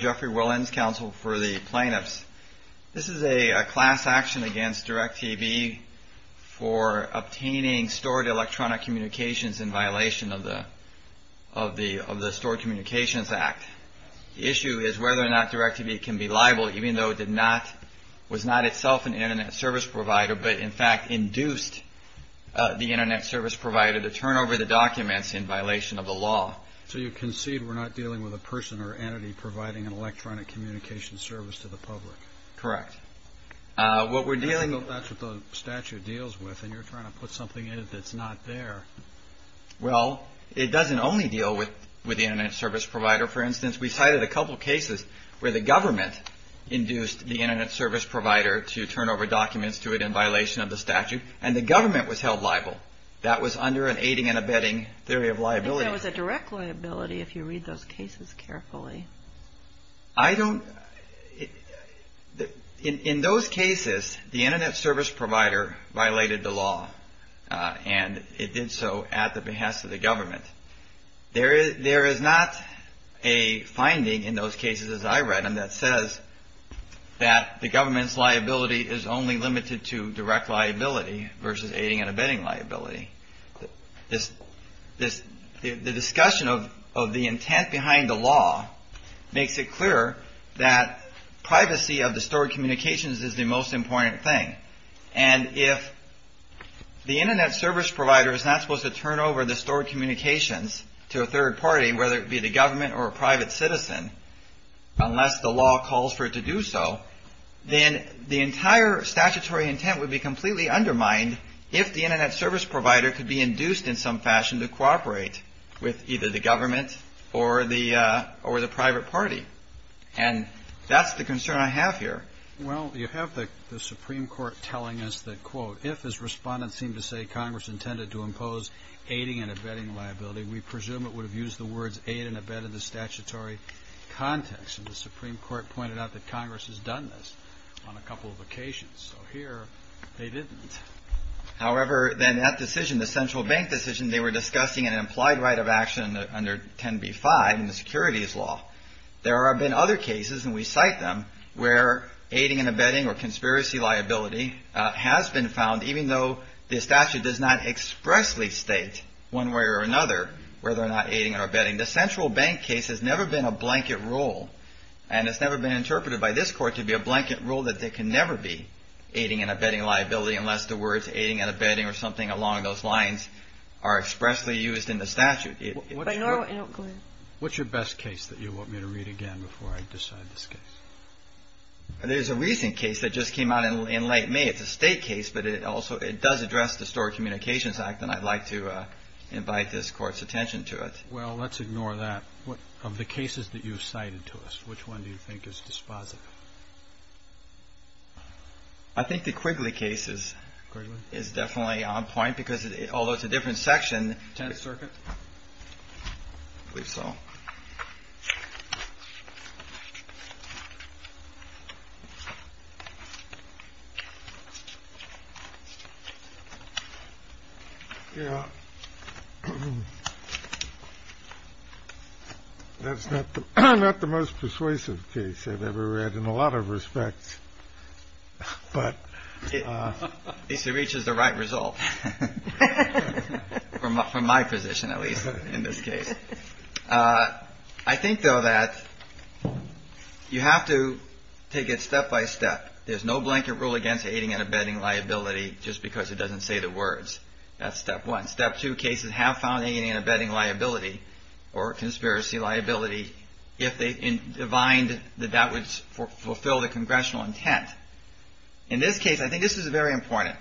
Jeffrey Willens, Counsel for the Plaintiffs. This is a class action against DirecTV for obtaining stored electronic communications in violation of the Stored Communications Act. The issue is whether or not DirecTV can be liable, even though it was not itself an Internet Service Provider, but in fact induced the Internet Service Provider to turn over the documents in violation of the law. So you concede we're not dealing with a person or entity providing an electronic communication service to the public? Correct. What we're dealing with That's what the statute deals with, and you're trying to put something in it that's not there. Well, it doesn't only deal with the Internet Service Provider. For instance, we cited a couple of cases where the government induced the Internet Service Provider to turn over documents to it in violation of the statute, and the government was held liable. That was under an aiding and abetting theory of liability. So it was a direct liability, if you read those cases carefully. I don't... In those cases, the Internet Service Provider violated the law, and it did so at the behest of the government. There is not a finding in those cases, as I read them, that says that the government's liability is only limited to direct liability versus aiding and abetting liability. The discussion of the intent behind the law makes it clear that privacy of the stored communications is the most important thing. And if the Internet Service Provider is not supposed to turn over the stored communications to a third party, whether it be the government or a private citizen, unless the law calls for it to do so, then the entire statutory intent would be completely undermined if the Internet Service Provider could be induced in some fashion to cooperate with either the government or the private party. And that's the concern I have here. Well, you have the Supreme Court telling us that, quote, if, as Respondents seem to say, Congress intended to impose aiding and abetting liability, we presume it would have used the words aid and abet in the statutory context. And the Supreme Court pointed out that Congress has done this on a couple of occasions. So here, they didn't. However, then that decision, the central bank decision, they were discussing an implied right of action under 10b-5 in the securities law. There have been other cases, and we cite them, where aiding and abetting or conspiracy liability has been found, even though the statute does not expressly state one way or another whether or not aiding or abetting. The central bank case has never been a blanket rule, and it's never been interpreted by this Court to be a blanket rule that there can never be aiding and abetting liability unless the words aiding and abetting or something along those lines are expressly used in the statute. What's your best case that you want me to read again before I decide this case? There's a recent case that just came out in late May. It's a state case, but it does address the Store Communications Act, and I'd like to invite this Court's attention to it. Well, let's ignore that. Of the cases that you've cited to us, which one do you think is dispositive? I think the Quigley case is definitely on point, because although it's a different section... Tenth Circuit? I believe so. Yeah. That's not the most persuasive case I've ever read in a lot of respects, but... At least it reaches the right result, from my position, at least, in this case. I think, though, that you have to take it step by step. There's no blanket rule against aiding and abetting liability just because it doesn't say the words. That's step one. Step two cases have found aiding and abetting liability, or conspiracy liability, if they find that that would fulfill the congressional intent. In this case, I think this is very important.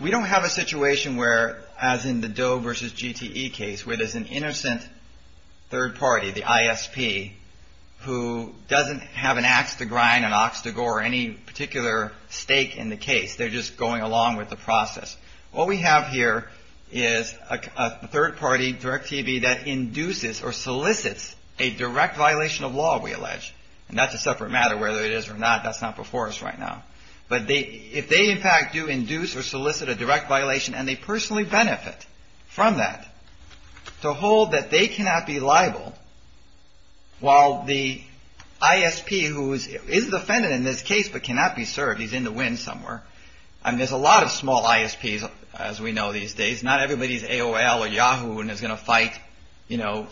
We don't have a situation where, as in the Doe v. GTE case, where there's an innocent third party, the ISP, who doesn't have an ax to grind, an ox to gore, or any particular stake in the case. They're just going along with the process. What we have here is a third party, Direct TV, that induces or solicits a direct violation of law, we allege. And that's a separate matter, whether it is or not. That's not before us right now. But if they, in fact, do induce or solicit a direct violation, and they personally benefit from that, to hold that they cannot be liable, while the ISP, who is defendant in this case, but cannot be served, he's in the wind somewhere. There's a lot of small ISPs, as we know these days. Not everybody's AOL or Yahoo and is going to fight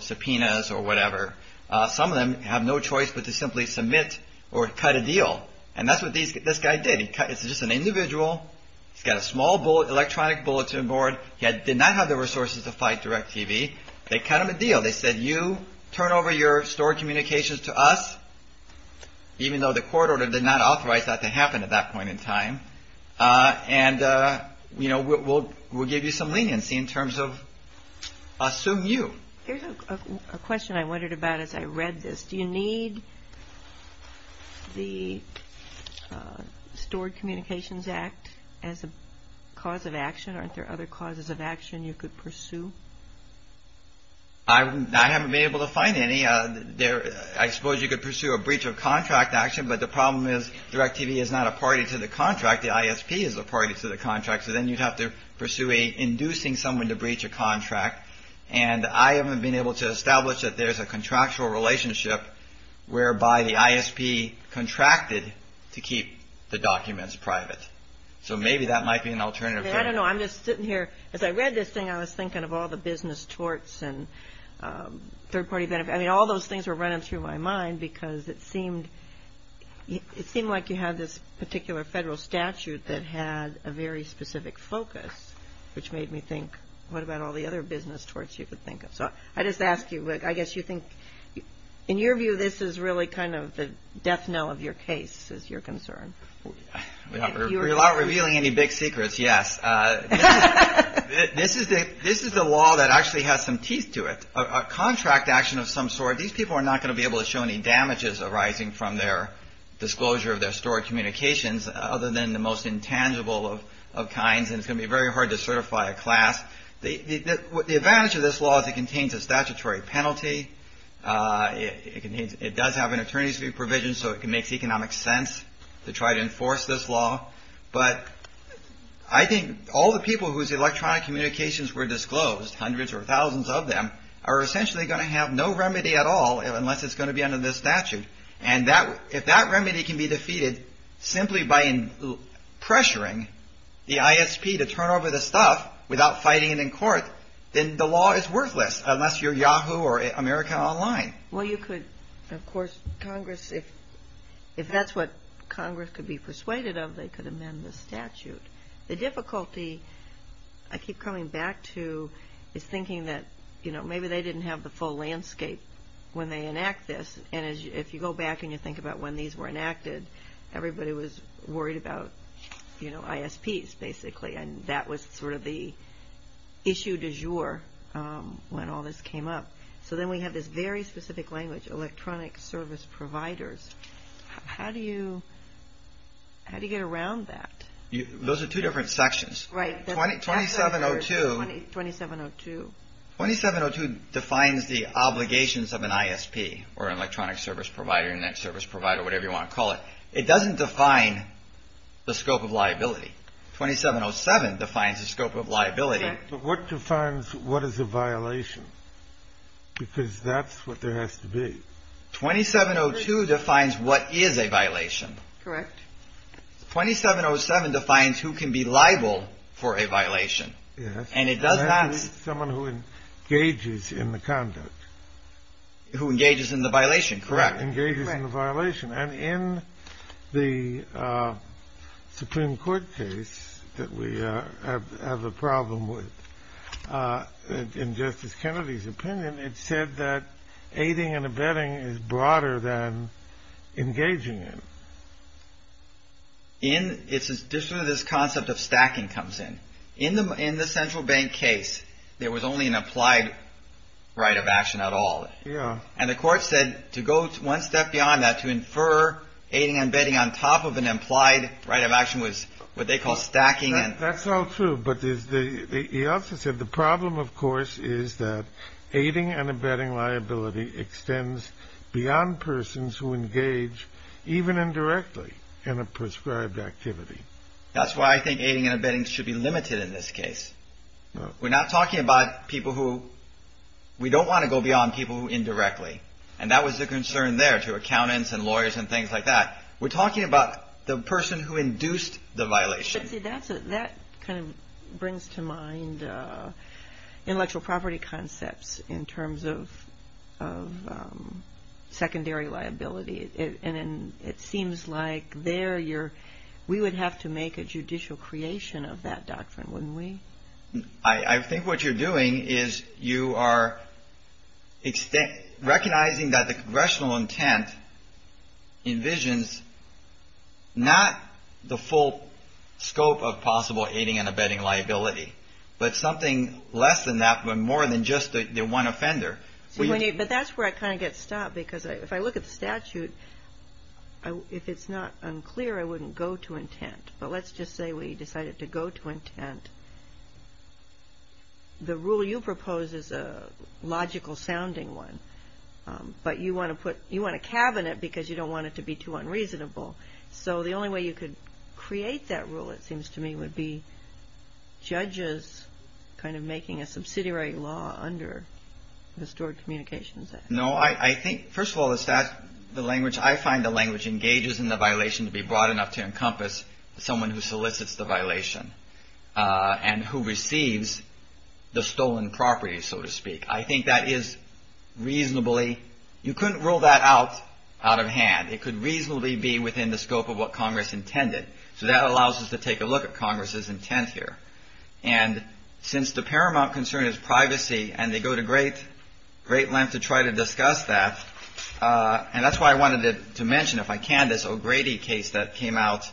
subpoenas or whatever. Some of them have no choice but to simply submit or cut a deal. And that's what this guy did. It's just an individual. He's got a small electronic bulletin board. He did not have the resources to fight Direct TV. They cut him a deal. They said, you turn over your stored communications to us, even though the court order did not authorize that to happen at that point in time. And, you know, we'll give you some leniency in terms of, assume you. Here's a question I wondered about as I read this. Do you need the Stored Communications Act as a cause of action? Aren't there other causes of action you could pursue? I haven't been able to find any. I suppose you could pursue a breach of contract action, but the problem is Direct TV is not a party to the contract. The ISP is a party to the contract. So then you'd have to pursue inducing someone to breach a contract. And I haven't been able to establish that there's a contractual relationship whereby the ISP contracted to keep the documents private. So maybe that might be an alternative. I don't know. I'm just sitting here. As I read this thing, I was thinking of all the business torts and third-party benefits. I mean, all those things were running through my mind because it seemed like you had this particular federal statute that had a very specific focus, which made me think, what about all the other business torts you could think of? So I just ask you, I guess you think, in your view, this is really kind of the death knell of your case, is your concern? Without revealing any big secrets, yes. This is the law that actually has some teeth to it. A contract action of some sort, these people are not going to be able to show any damages arising from their disclosure of their stored communications other than the most intangible of kinds, and it's going to be very hard to certify a class. The advantage of this law is it contains a statutory penalty. It does have an attorney's fee provision, so it makes economic sense to try to enforce this law. But I think all the people whose electronic communications were disclosed, hundreds or thousands of them, are essentially going to have no remedy at all unless it's going to be under this statute. And if that remedy can be defeated simply by pressuring the ISP to turn over the stuff without fighting it in court, then the law is worthless, unless you're Yahoo or America Online. Well, you could, of course, Congress, if that's what Congress could be persuaded of, they could amend the statute. The difficulty I keep coming back to is thinking that maybe they didn't have the full landscape when they enact this, and if you go back and you think about when these were enacted, everybody was worried about ISPs, basically, and that was sort of the issue du jour when all this came up. So then we have this very specific language, electronic service providers. How do you get around that? Those are two different sections. Right. 2702. 2702. 2702 defines the obligations of an ISP or an electronic service provider, internet service provider, whatever you want to call it. It doesn't define the scope of liability. 2707 defines the scope of liability. But what defines what is a violation? Because that's what there has to be. 2702 defines what is a violation. Correct. 2707 defines who can be liable for a violation. Yes. And it does not... Someone who engages in the conduct. Who engages in the violation, correct. Engages in the violation. And in the Supreme Court case that we have a problem with, in Justice Kennedy's opinion, it said that aiding and abetting is broader than engaging in. It's just sort of this concept of stacking comes in. In the central bank case, there was only an applied right of action at all. And the court said to go one step beyond that to infer aiding and abetting on top of an implied right of action was what they call stacking. That's all true. But he also said the problem, of course, is that aiding and abetting liability extends beyond persons who engage even indirectly in a prescribed activity. That's why I think aiding and abetting should be limited in this case. We're not talking about people who... We don't want to go beyond people who indirectly. And that was the concern there to accountants and lawyers and things like that. We're talking about the person who induced the violation. That kind of brings to mind intellectual property concepts in terms of secondary liability. And it seems like there you're... We would have to make a judicial creation of that doctrine, wouldn't we? I think what you're doing is you are recognizing that the congressional intent envisions not the full scope of possible aiding and abetting liability, but something less than that, but more than just the one offender. But that's where I kind of get stopped because if I look at the statute, if it's not unclear, I wouldn't go to intent. But let's just say we decided to go to intent. The rule you propose is a logical-sounding one. But you want a cabinet because you don't want it to be too unreasonable. So the only way you could create that rule, it seems to me, would be judges kind of making a subsidiary law under the Stored Communications Act. No, I think, first of all, I find the language engages in the violation to be broad enough to encompass someone who solicits the violation and who receives the stolen property, so to speak. I think that is reasonably, you couldn't rule that out out of hand. It could reasonably be within the scope of what Congress intended. So that allows us to take a look at Congress's intent here. And since the paramount concern is privacy, and they go to great length to try to discuss that, and that's why I wanted to mention, if I can, this O'Grady case that came out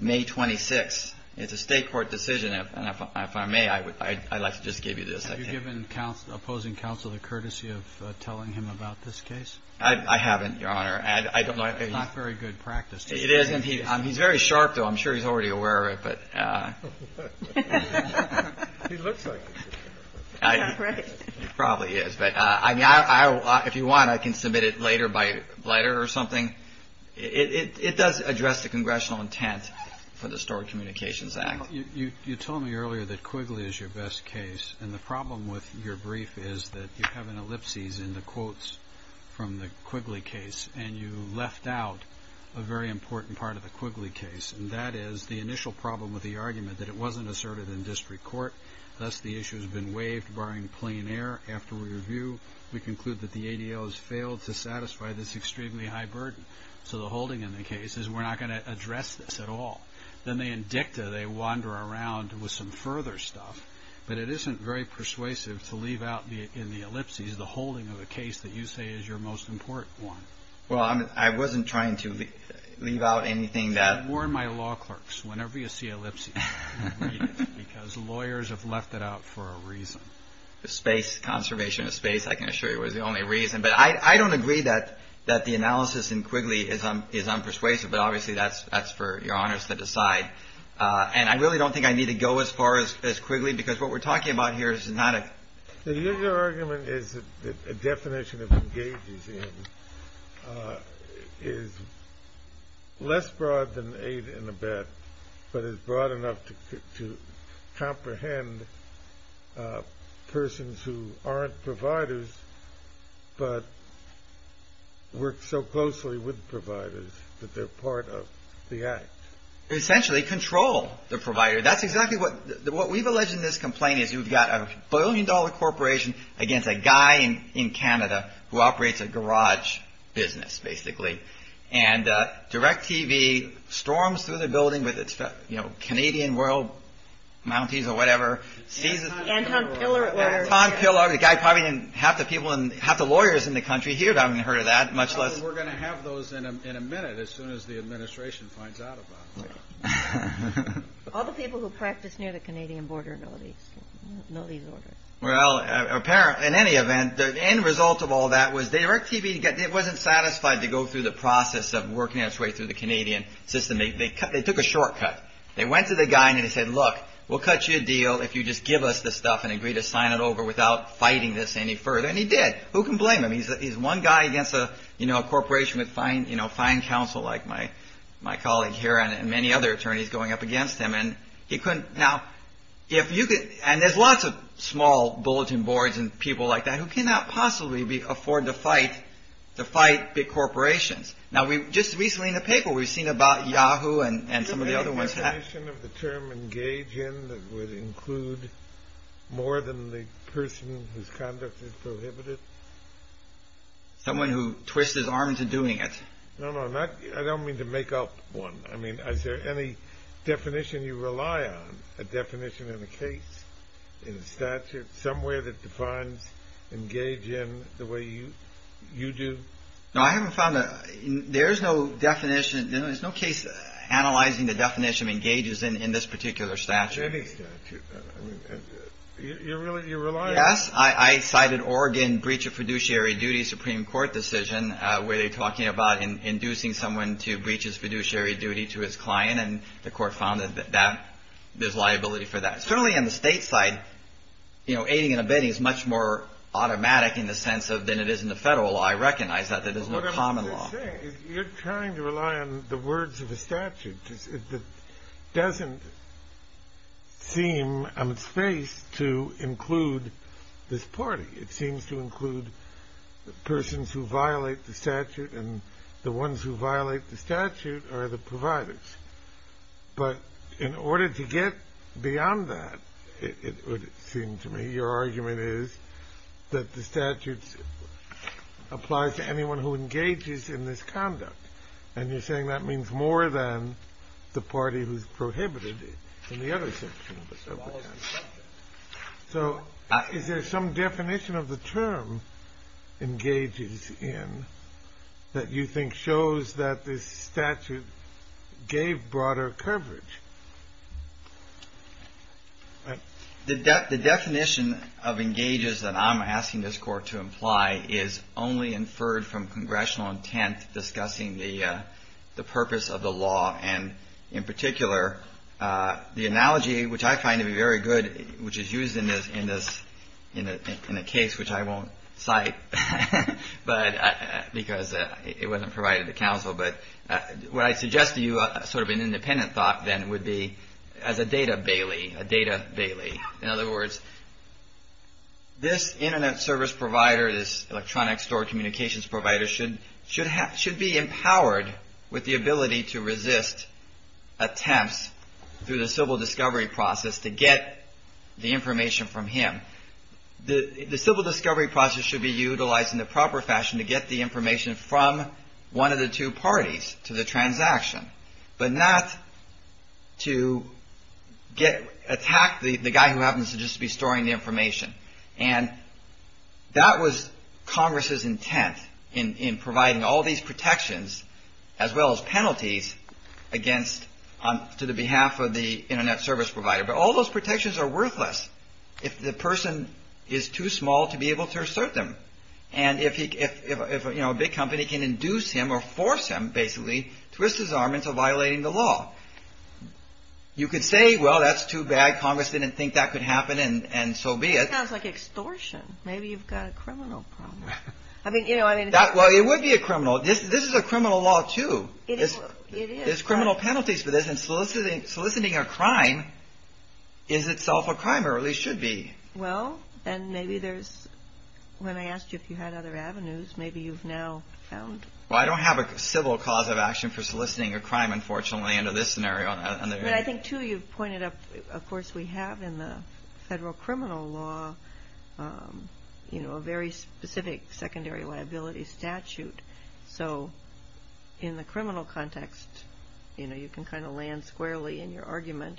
May 26. It's a state court decision, and if I may, I'd like to just give you this. Have you given opposing counsel the courtesy of telling him about this case? I haven't, Your Honor. It's not very good practice. It is, and he's very sharp, though. I'm sure he's already aware of it. He looks like it. He probably is. If you want, I can submit it later by letter or something. It does address the congressional intent for the Stored Communications Act. You told me earlier that Quigley is your best case, and the problem with your brief is that you have an ellipsis in the quotes from the Quigley case, and you left out a very important part of the Quigley case, and that is the initial problem with the argument that it wasn't asserted in district court, thus the issue has been waived barring plain error. After review, we conclude that the ADO has failed to satisfy this extremely high burden. So the holding in the case is we're not going to address this at all. Then in dicta, they wander around with some further stuff, but it isn't very persuasive to leave out in the ellipsis the holding of a case that you say is your most important one. Well, I wasn't trying to leave out anything that... I warn my law clerks, whenever you see ellipsis, read it, because lawyers have left it out for a reason. The space, conservation of space, I can assure you, was the only reason, but I don't agree that the analysis in Quigley is unpersuasive, but obviously that's for your honors to decide. And I really don't think I need to go as far as Quigley, because what we're talking about here is not a... The usual argument is that the definition of engages in is less broad than aid and abet, but is broad enough to comprehend persons who aren't providers but work so closely with providers that they're part of the act. Essentially, control the provider. That's exactly what we've alleged in this complaint is you've got a billion dollar corporation against a guy in Canada who operates a garage business, basically. And DirecTV storms through the building with its Canadian world mounties or whatever, seizes... Anton Piller. Anton Piller, the guy probably didn't have the lawyers in the country hear that, much less... We're going to have those in a minute, as soon as the administration finds out about it. All the people who practice near the Canadian border know these orders. Well, in any event, the end result of all that was DirecTV wasn't satisfied to go through the process of working its way through the Canadian system. They took a shortcut. They went to the guy and they said, look, we'll cut you a deal if you just give us the stuff and agree to sign it over without fighting this any further. And he did. Who can blame him? He's one guy against a corporation with fine counsel like my colleague here and many other attorneys going up against him. And he couldn't... And there's lots of small bulletin boards and people like that who cannot possibly afford to fight big corporations. Now, just recently in the paper we've seen about Yahoo and some of the other ones... Is there any definition of the term engage in that would include more than the person whose conduct is prohibited? Someone who twists his arms in doing it. No, no, not I don't mean to make up one. I mean is there any definition you rely on? A definition in a case? In a statute? Somewhere that defines engage in the way you do? No, I haven't found a... There's no definition. There's no case analyzing the definition engages in this particular statute. Any statute. You rely on... Yes, I cited Oregon breach of fiduciary duty Supreme Court decision where they're talking about inducing someone to breach his fiduciary duty to his client and the court found that there's liability for that. Certainly on the state side aiding and abetting is much more automatic in the sense of than it is in the federal law. I recognize that. There's no common law. You're trying to rely on the words of a statute that doesn't seem on its face to include this party. It seems to include persons who violate the statute and the ones who violate the statute are the providers. But in order to get beyond that it would seem to me your argument is that the statute applies to anyone who engages in this conduct and you're saying that means more than the party who's prohibited in the other section. So is there some definition of the term engages in that you think shows that this statute gave broader coverage? The definition of engages that I'm asking this court to imply is only inferred from congressional intent discussing the in particular the analogy which I find to be very good which is used in this in a case which I won't cite because it wasn't provided to counsel but what I suggest to you sort of an independent thought then would be as a data bailey a data bailey. In other words this internet service provider, this electronic store communications provider should be empowered with the ability to resist attempts through the civil discovery process to get the information from him. The civil discovery process should be utilized in the proper fashion to get the information from one of the two parties to the transaction but not to attack the guy who happens to just be storing the information and that was congress's intent in providing all these protections as well as penalties to the behalf of the internet service provider but all those protections are worthless if the person is too small to be able to assert them and if a big company can induce him or force him basically twist his arm into violating the law. You could say well that's too bad congress didn't think that could happen and so be it. Maybe you've got a criminal problem. Well it would be a criminal this is a criminal law too. There's criminal penalties for this and soliciting a crime is itself a crime or at least should be. Well and maybe there's when I asked you if you had other avenues maybe you've now found. Well I don't have a civil cause of action for soliciting a crime unfortunately under this scenario. I think too you've pointed up of course we have in the federal criminal law a very specific secondary liability statute so in the criminal context you can kind of land squarely in your argument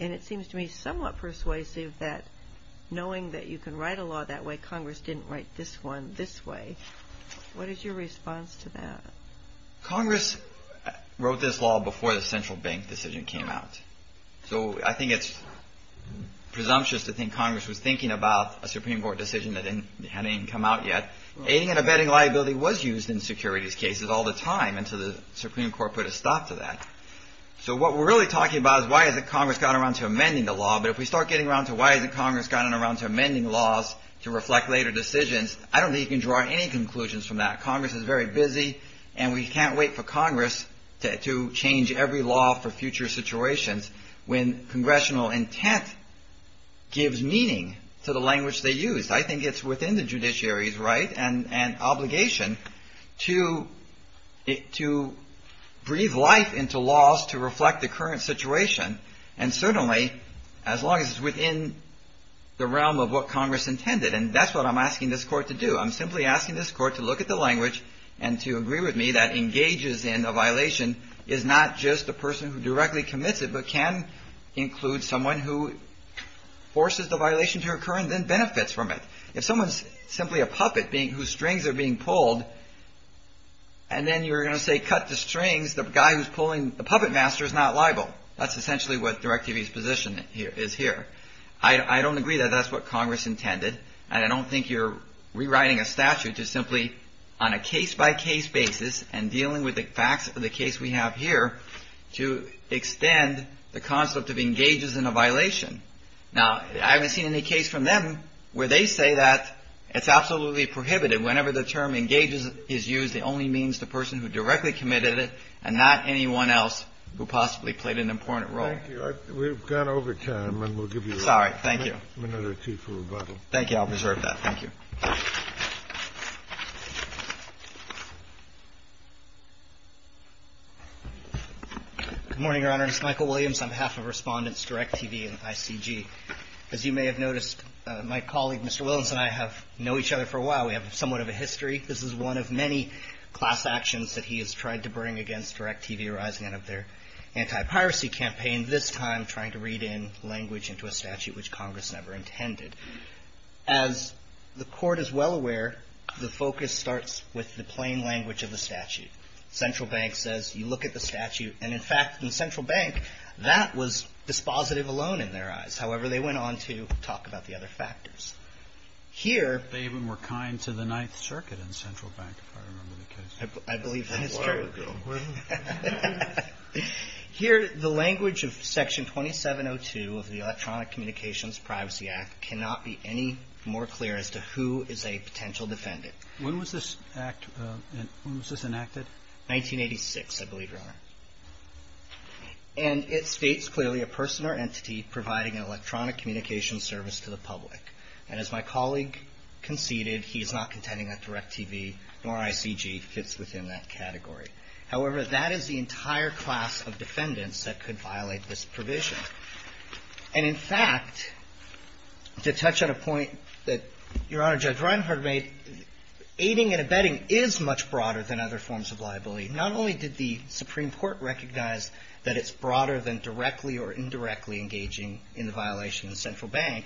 and it seems to me somewhat persuasive that knowing that you can write a law that way congress didn't write this one this way. What is your response to that? Congress wrote this law before the central bank decision came out so I think it's presumptuous to think congress was thinking about a supreme court decision that hadn't even come out yet aiding and abetting liability was used in securities cases all the time until the supreme court put a stop to that so what we're really talking about is why hasn't congress gotten around to amending the law but if we start getting around to why hasn't congress gotten around to amending laws to reflect later decisions I don't think you can draw any conclusions from that. Congress is very busy and we can't wait for congress to change every law for future situations when congressional intent gives meaning to the language they use I think it's within the judiciary's right and obligation to breathe life into laws to reflect the current situation and certainly as long as it's within the realm of what congress intended and that's what I'm asking this court to do. I'm simply asking this court to look at the language and to agree with me that engages in a violation is not just the person who directly commits it but can include someone who forces the violation to occur and then benefits from it if someone's simply a puppet whose strings are being pulled and then you're going to say cut the strings the guy who's pulling the puppet master is not liable. That's essentially what directives position is here I don't agree that that's what congress intended and I don't think you're rewriting a statute to simply on a case by case basis and dealing with the facts of the case we have here to extend the concept of engages in a violation. Now I haven't seen any case from them where they say that it's absolutely prohibited whenever the term engages is used it only means the person who directly committed it and not anyone else who possibly played an important role. We've gone over time and we'll give you another two for rebuttal. Thank you I'll reserve that. Good morning Your Honor it's Michael Williams on behalf of Respondents Direct TV and ICG. As you may have noticed my colleague Mr. Williams and I have known each other for a while we have somewhat of a history. This is one of many class actions that he has tried to bring against Direct TV arising out of their anti-piracy campaign this time trying to read in language into a statute which congress never intended. As the court is well aware the focus starts with the plain language of the statute. Central Bank says you look at the statute and in fact in Central Bank that was dispositive alone in their eyes however they went on to talk about the other factors. Here. They even were kind to the 9th Circuit in Central Bank if I remember the case. I believe that is true. Here the language of section 2702 of the Electronic Communications Privacy Act cannot be any more clear as to who is a potential defendant. When was this act, when was this enacted? 1986 I believe Your Honor. And it states clearly a person or entity providing an electronic communication service to the public. And as my colleague conceded he is not contending that Direct TV nor ICG fits within that category. However that is the entire class of defendants that could violate this provision. And in fact to touch on a point that Your Honor Judge Reinhart made, aiding and abetting is much broader than other forms of liability. Not only did the Supreme Court recognize that it's broader than directly or indirectly engaging in the violation of the Central Bank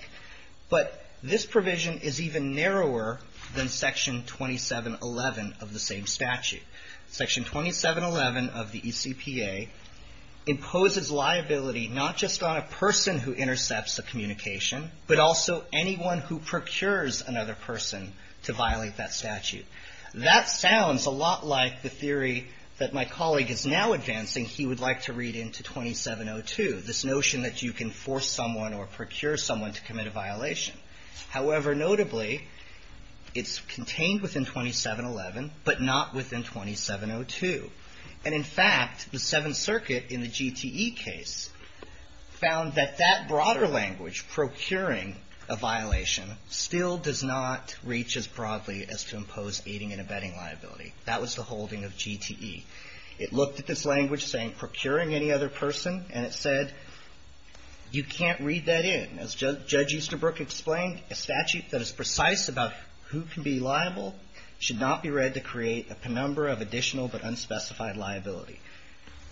but this provision is even narrower than section 2711 of the same statute. Section 2711 of the ECPA imposes liability not just on a person who intercepts a communication but also anyone who to violate that statute. That sounds a lot like the theory that my colleague is now advancing he would like to read into 2702 this notion that you can force someone or procure someone to commit a violation. However notably it's contained within 2711 but not within 2702. in the GTE case found that that broader language procuring a violation still does not reach as broadly as to impose aiding and abetting liability. That was the holding of GTE. It looked at this language saying procuring any other person and it said you can't read that in. As Judge Easterbrook explained, a statute that is precise about who can be liable should not be read to create a penumbra of additional but unspecified liability.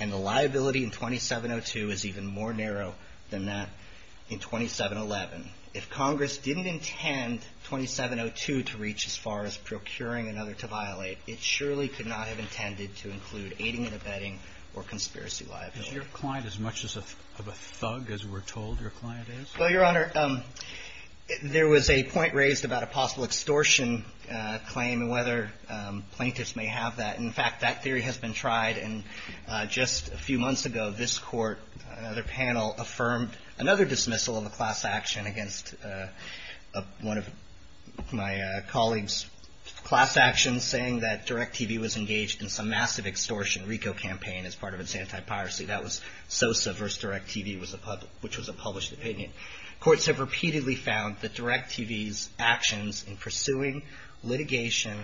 And the liability in 2702 is even more narrow than that in 2711. If Congress didn't intend 2702 to reach as far as procuring another to violate, it surely could not have intended to include aiding and abetting or conspiracy liability. Is your client as much of a thug as we're told your client is? Well, Your Honor, there was a point raised about a possible extortion claim and whether plaintiffs may have that. In fact, that theory has been tried and just a few months ago this Court and other panel affirmed another dismissal of a class action against one of my colleague's class actions saying that DirecTV was engaged in some massive extortion RICO campaign as part of its anti-piracy. That was Sosa versus DirecTV which was a published opinion. Courts have repeatedly found that DirecTV's actions in pursuing litigation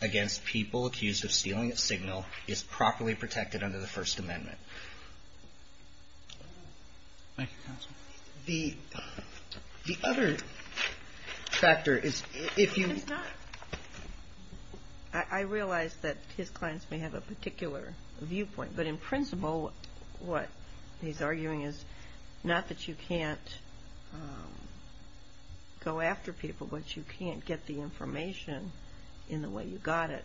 against people accused of stealing a signal is properly protected under the First Amendment. The other factor is if you I realize that his clients may have a particular viewpoint but in principle what he's arguing is not that you can't go after people but you can't get the information in the way you got it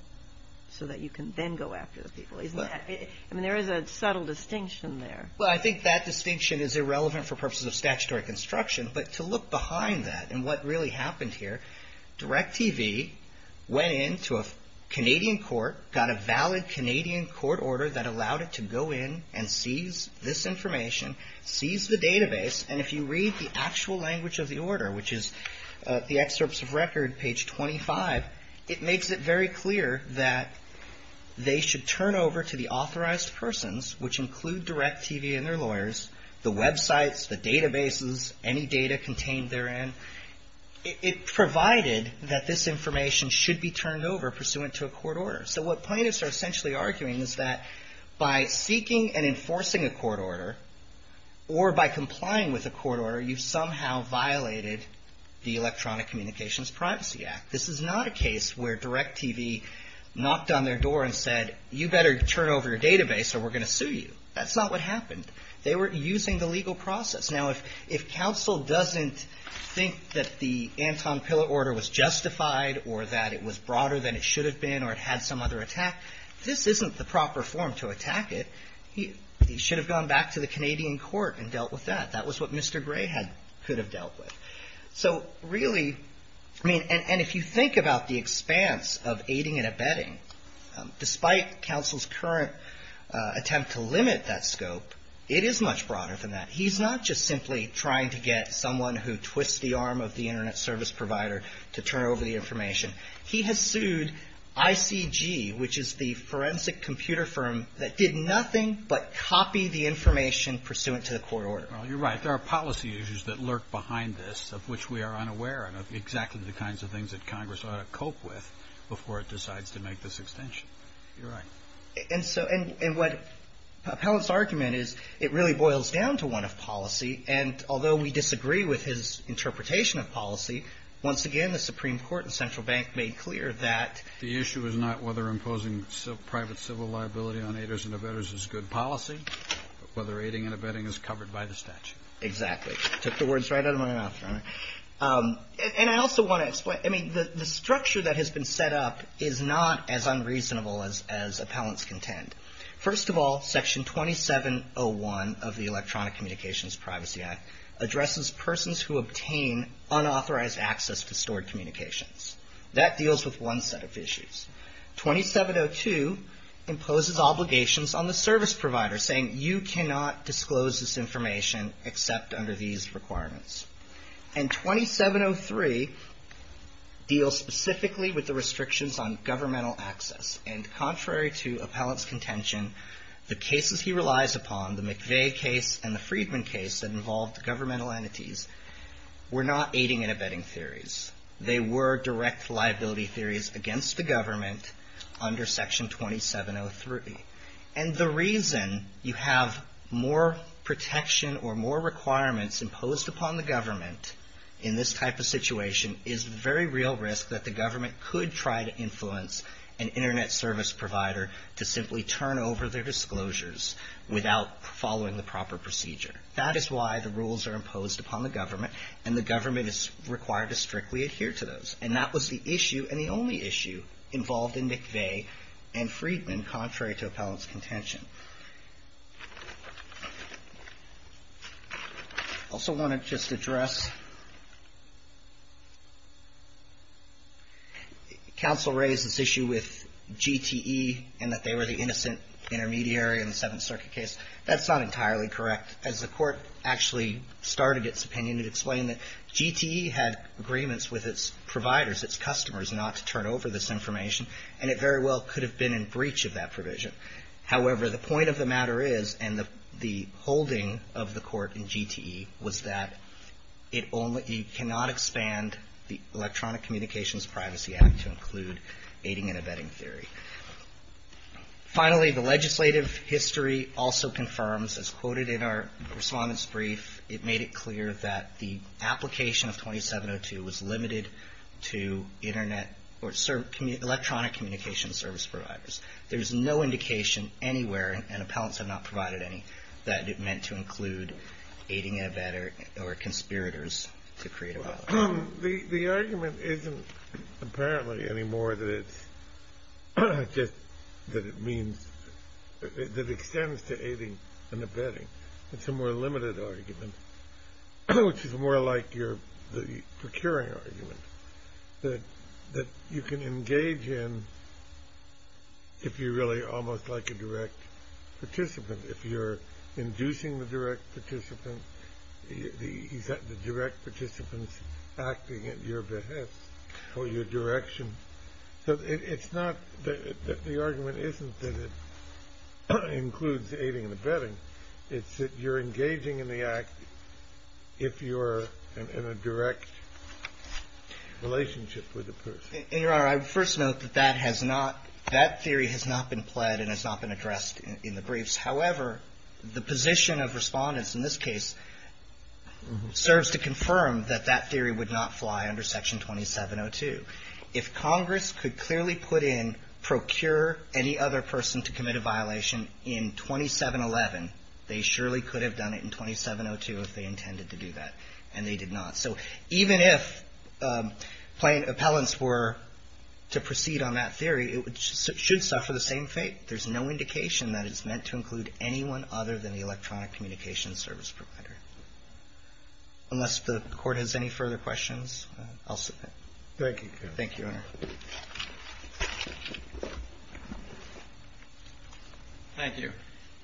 so that you can then go after the people. There is a subtle difference a subtle distinction there. Well I think that distinction is irrelevant for purposes of statutory construction but to look behind that and what really happened here DirecTV went into a Canadian court got a valid Canadian court order that allowed it to go in and seize this information seize the database and if you read the actual language of the order which is the excerpts of record page 25 it makes it very clear that they should turn over to the authorized persons which include DirecTV and their lawyers the websites the databases any data contained therein it provided that this information should be turned over pursuant to a court order so what plaintiffs are essentially arguing is that by seeking and enforcing a court order or by complying with a court order you've somehow violated the Electronic Communications Privacy Act. This is not a case where DirecTV knocked on their door and said you better turn over your database or we're going to sue you. That's not what happened. They were using the legal process. Now if counsel doesn't think that the Anton Pillar order was justified or that it was broader than it should have been or it had some other attack this isn't the proper form to attack it he should have gone back to the Canadian court and dealt with that. That was what Mr. Gray could have dealt with. So really and if you think about the expanse of aiding and abetting despite counsel's current attempt to limit that scope it is much broader than that. He's not just simply trying to get someone who twists the arm of the internet service provider to turn over the information. He has sued ICG which is the forensic computer firm that did nothing but copy the information pursuant to the court order. Well you're right there are policy issues that lurk behind this of which we are unaware of exactly the kinds of things that Congress ought to cope with before it decides to make this extension. You're right. And what Pellant's argument is it really boils down to one of policy and although we disagree with his interpretation of policy once again the Supreme Court and Central Bank made clear that the issue is not whether imposing private civil liability on aiders and abettors is good policy but whether aiding and abetting is covered by the statute. Exactly. Took the words right out of my mouth. And I also want to explain the structure that has been set up is not as unreasonable as Appellant's contend. First of all section 2701 of the Electronic Communications Privacy Act addresses persons who obtain unauthorized access to stored communications. That deals with one set of issues. 2702 imposes obligations on the service provider saying you cannot disclose this information except under these requirements. And 2703 deals specifically with the restrictions on governmental access and contrary to Appellant's contention the cases he relies upon, the McVeigh case and the Freedman case that involved governmental entities were not aiding and abetting theories. They were direct liability theories against the government under section 2703. And the reason you have more protection or more requirements imposed upon the government in this type of situation is very real risk that the government could try to influence an internet service provider to simply turn over their disclosures without following the proper procedure. That is why the rules are imposed upon the government and the government is required the issue and the only issue involved in McVeigh and Freedman and contrary to Appellant's contention. I also want to just address counsel raised this issue with GTE and that they were the innocent intermediary in the Seventh Circuit case. That's not entirely correct. As the court actually started its opinion it explained that GTE had agreements with its providers, its customers not to turn over this information and it very well could have been in breach of that provision. However, the point of the matter is and the holding of the court in GTE was that you cannot expand the Electronic Communications Privacy Act to include aiding and abetting theory. Finally, the legislative history also confirms as quoted in our response brief, it made it clear that the application of 2702 was limited to electronic communications service providers. There's no indication anywhere and Appellants have not provided any that it meant to include aiding and abetting or conspirators to create a violence. The argument isn't apparently anymore that it means that it extends to aiding and abetting. It's a more limited argument which is more like your procuring argument that you can engage in if you're really almost like a direct participant. If you're inducing the direct participants the direct participants acting at your behest or your direction. So it's not that the argument isn't that it includes aiding and abetting. It's that you're engaging in the act if you're in a direct relationship with the person. Your Honor, I would first note that that has not, that theory has not been pled and has not been addressed in the briefs. However, the position of Respondents in this case serves to confirm that that theory would not fly under section 2702. If Congress could clearly put in procure any other person to commit a violation in 2711, they surely could have done it in and they did not. So even if plain appellants were to proceed on that theory, it should suffer the same fate. There's no indication that it's meant to include anyone other than the electronic communications service provider. Unless the Court has any further questions, I'll submit. Thank you. Thank you, Your Honor. Thank you.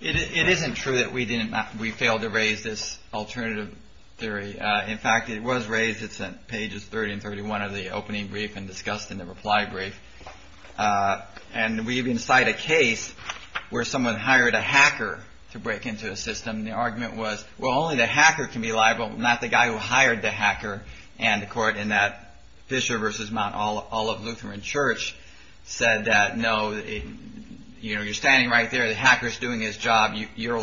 It isn't true that we didn't, we failed to raise this alternative theory. In fact, it was raised, it's in pages 30 and 31 of the opening brief and discussed in the reply brief. And we even cite a case where someone hired a hacker to break into a system and the argument was, well, only the hacker can be liable, not the guy who hired the hacker. And the Court in that Fisher v. Mount Olive Lutheran Church said that, no, you know, you're standing right there, the hacker's doing his job, you're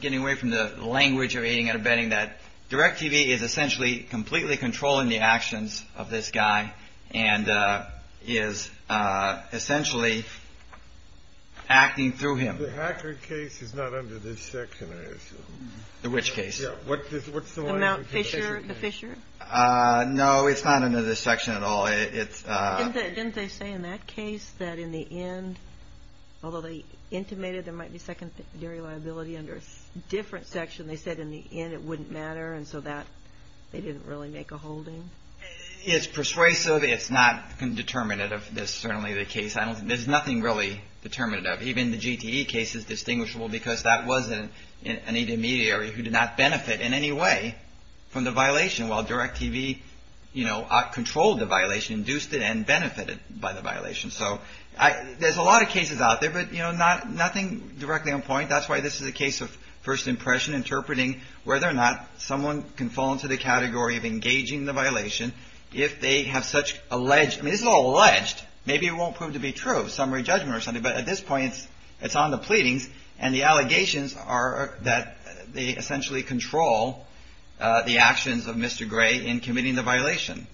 getting away from the language of aiding and abetting that DirecTV is essentially completely controlling the actions of this guy and is essentially acting through him. The hacker case is not under this section, I assume. The which case? The Mount Fisher, the Fisher? No, it's not under this section at all. Didn't they say in that case that in the end, although they intimated there might be secondary liability under a different section, they said in the end it wouldn't matter and so they didn't really make a holding? It's persuasive. It's not determinative. That's certainly the case. There's nothing really determinative. Even the GTE case is distinguishable because that was an intermediary who did not benefit in any way from the violation while DirecTV, you know, controlled the violation, induced it and benefited by the violation. So there's a lot of cases out there, but nothing directly on point. That's why this is a case of first impression, interpreting whether or not someone can fall into the category of engaging the violation if they have such alleged, I mean this is all alleged, maybe it won't prove to be true, summary judgment or something, but at this point it's on the pleadings and the allegations are that they essentially control the actions of Mr. Gray in committing the violation.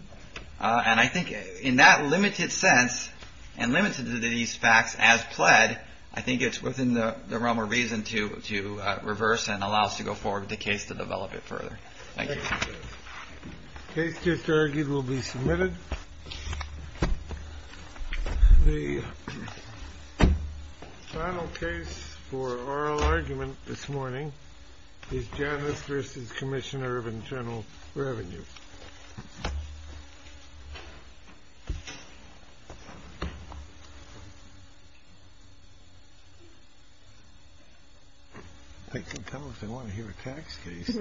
And I think in that limited sense and limited to these facts as pled, I think it's within the realm of reason to reverse and allow us to go forward with the case to develop it further. Thank you. The case just argued will be submitted. The final case for oral argument this morning is Janice v. Commissioner of Internal Revenue. Thank you. They can come if they want to hear a tax case.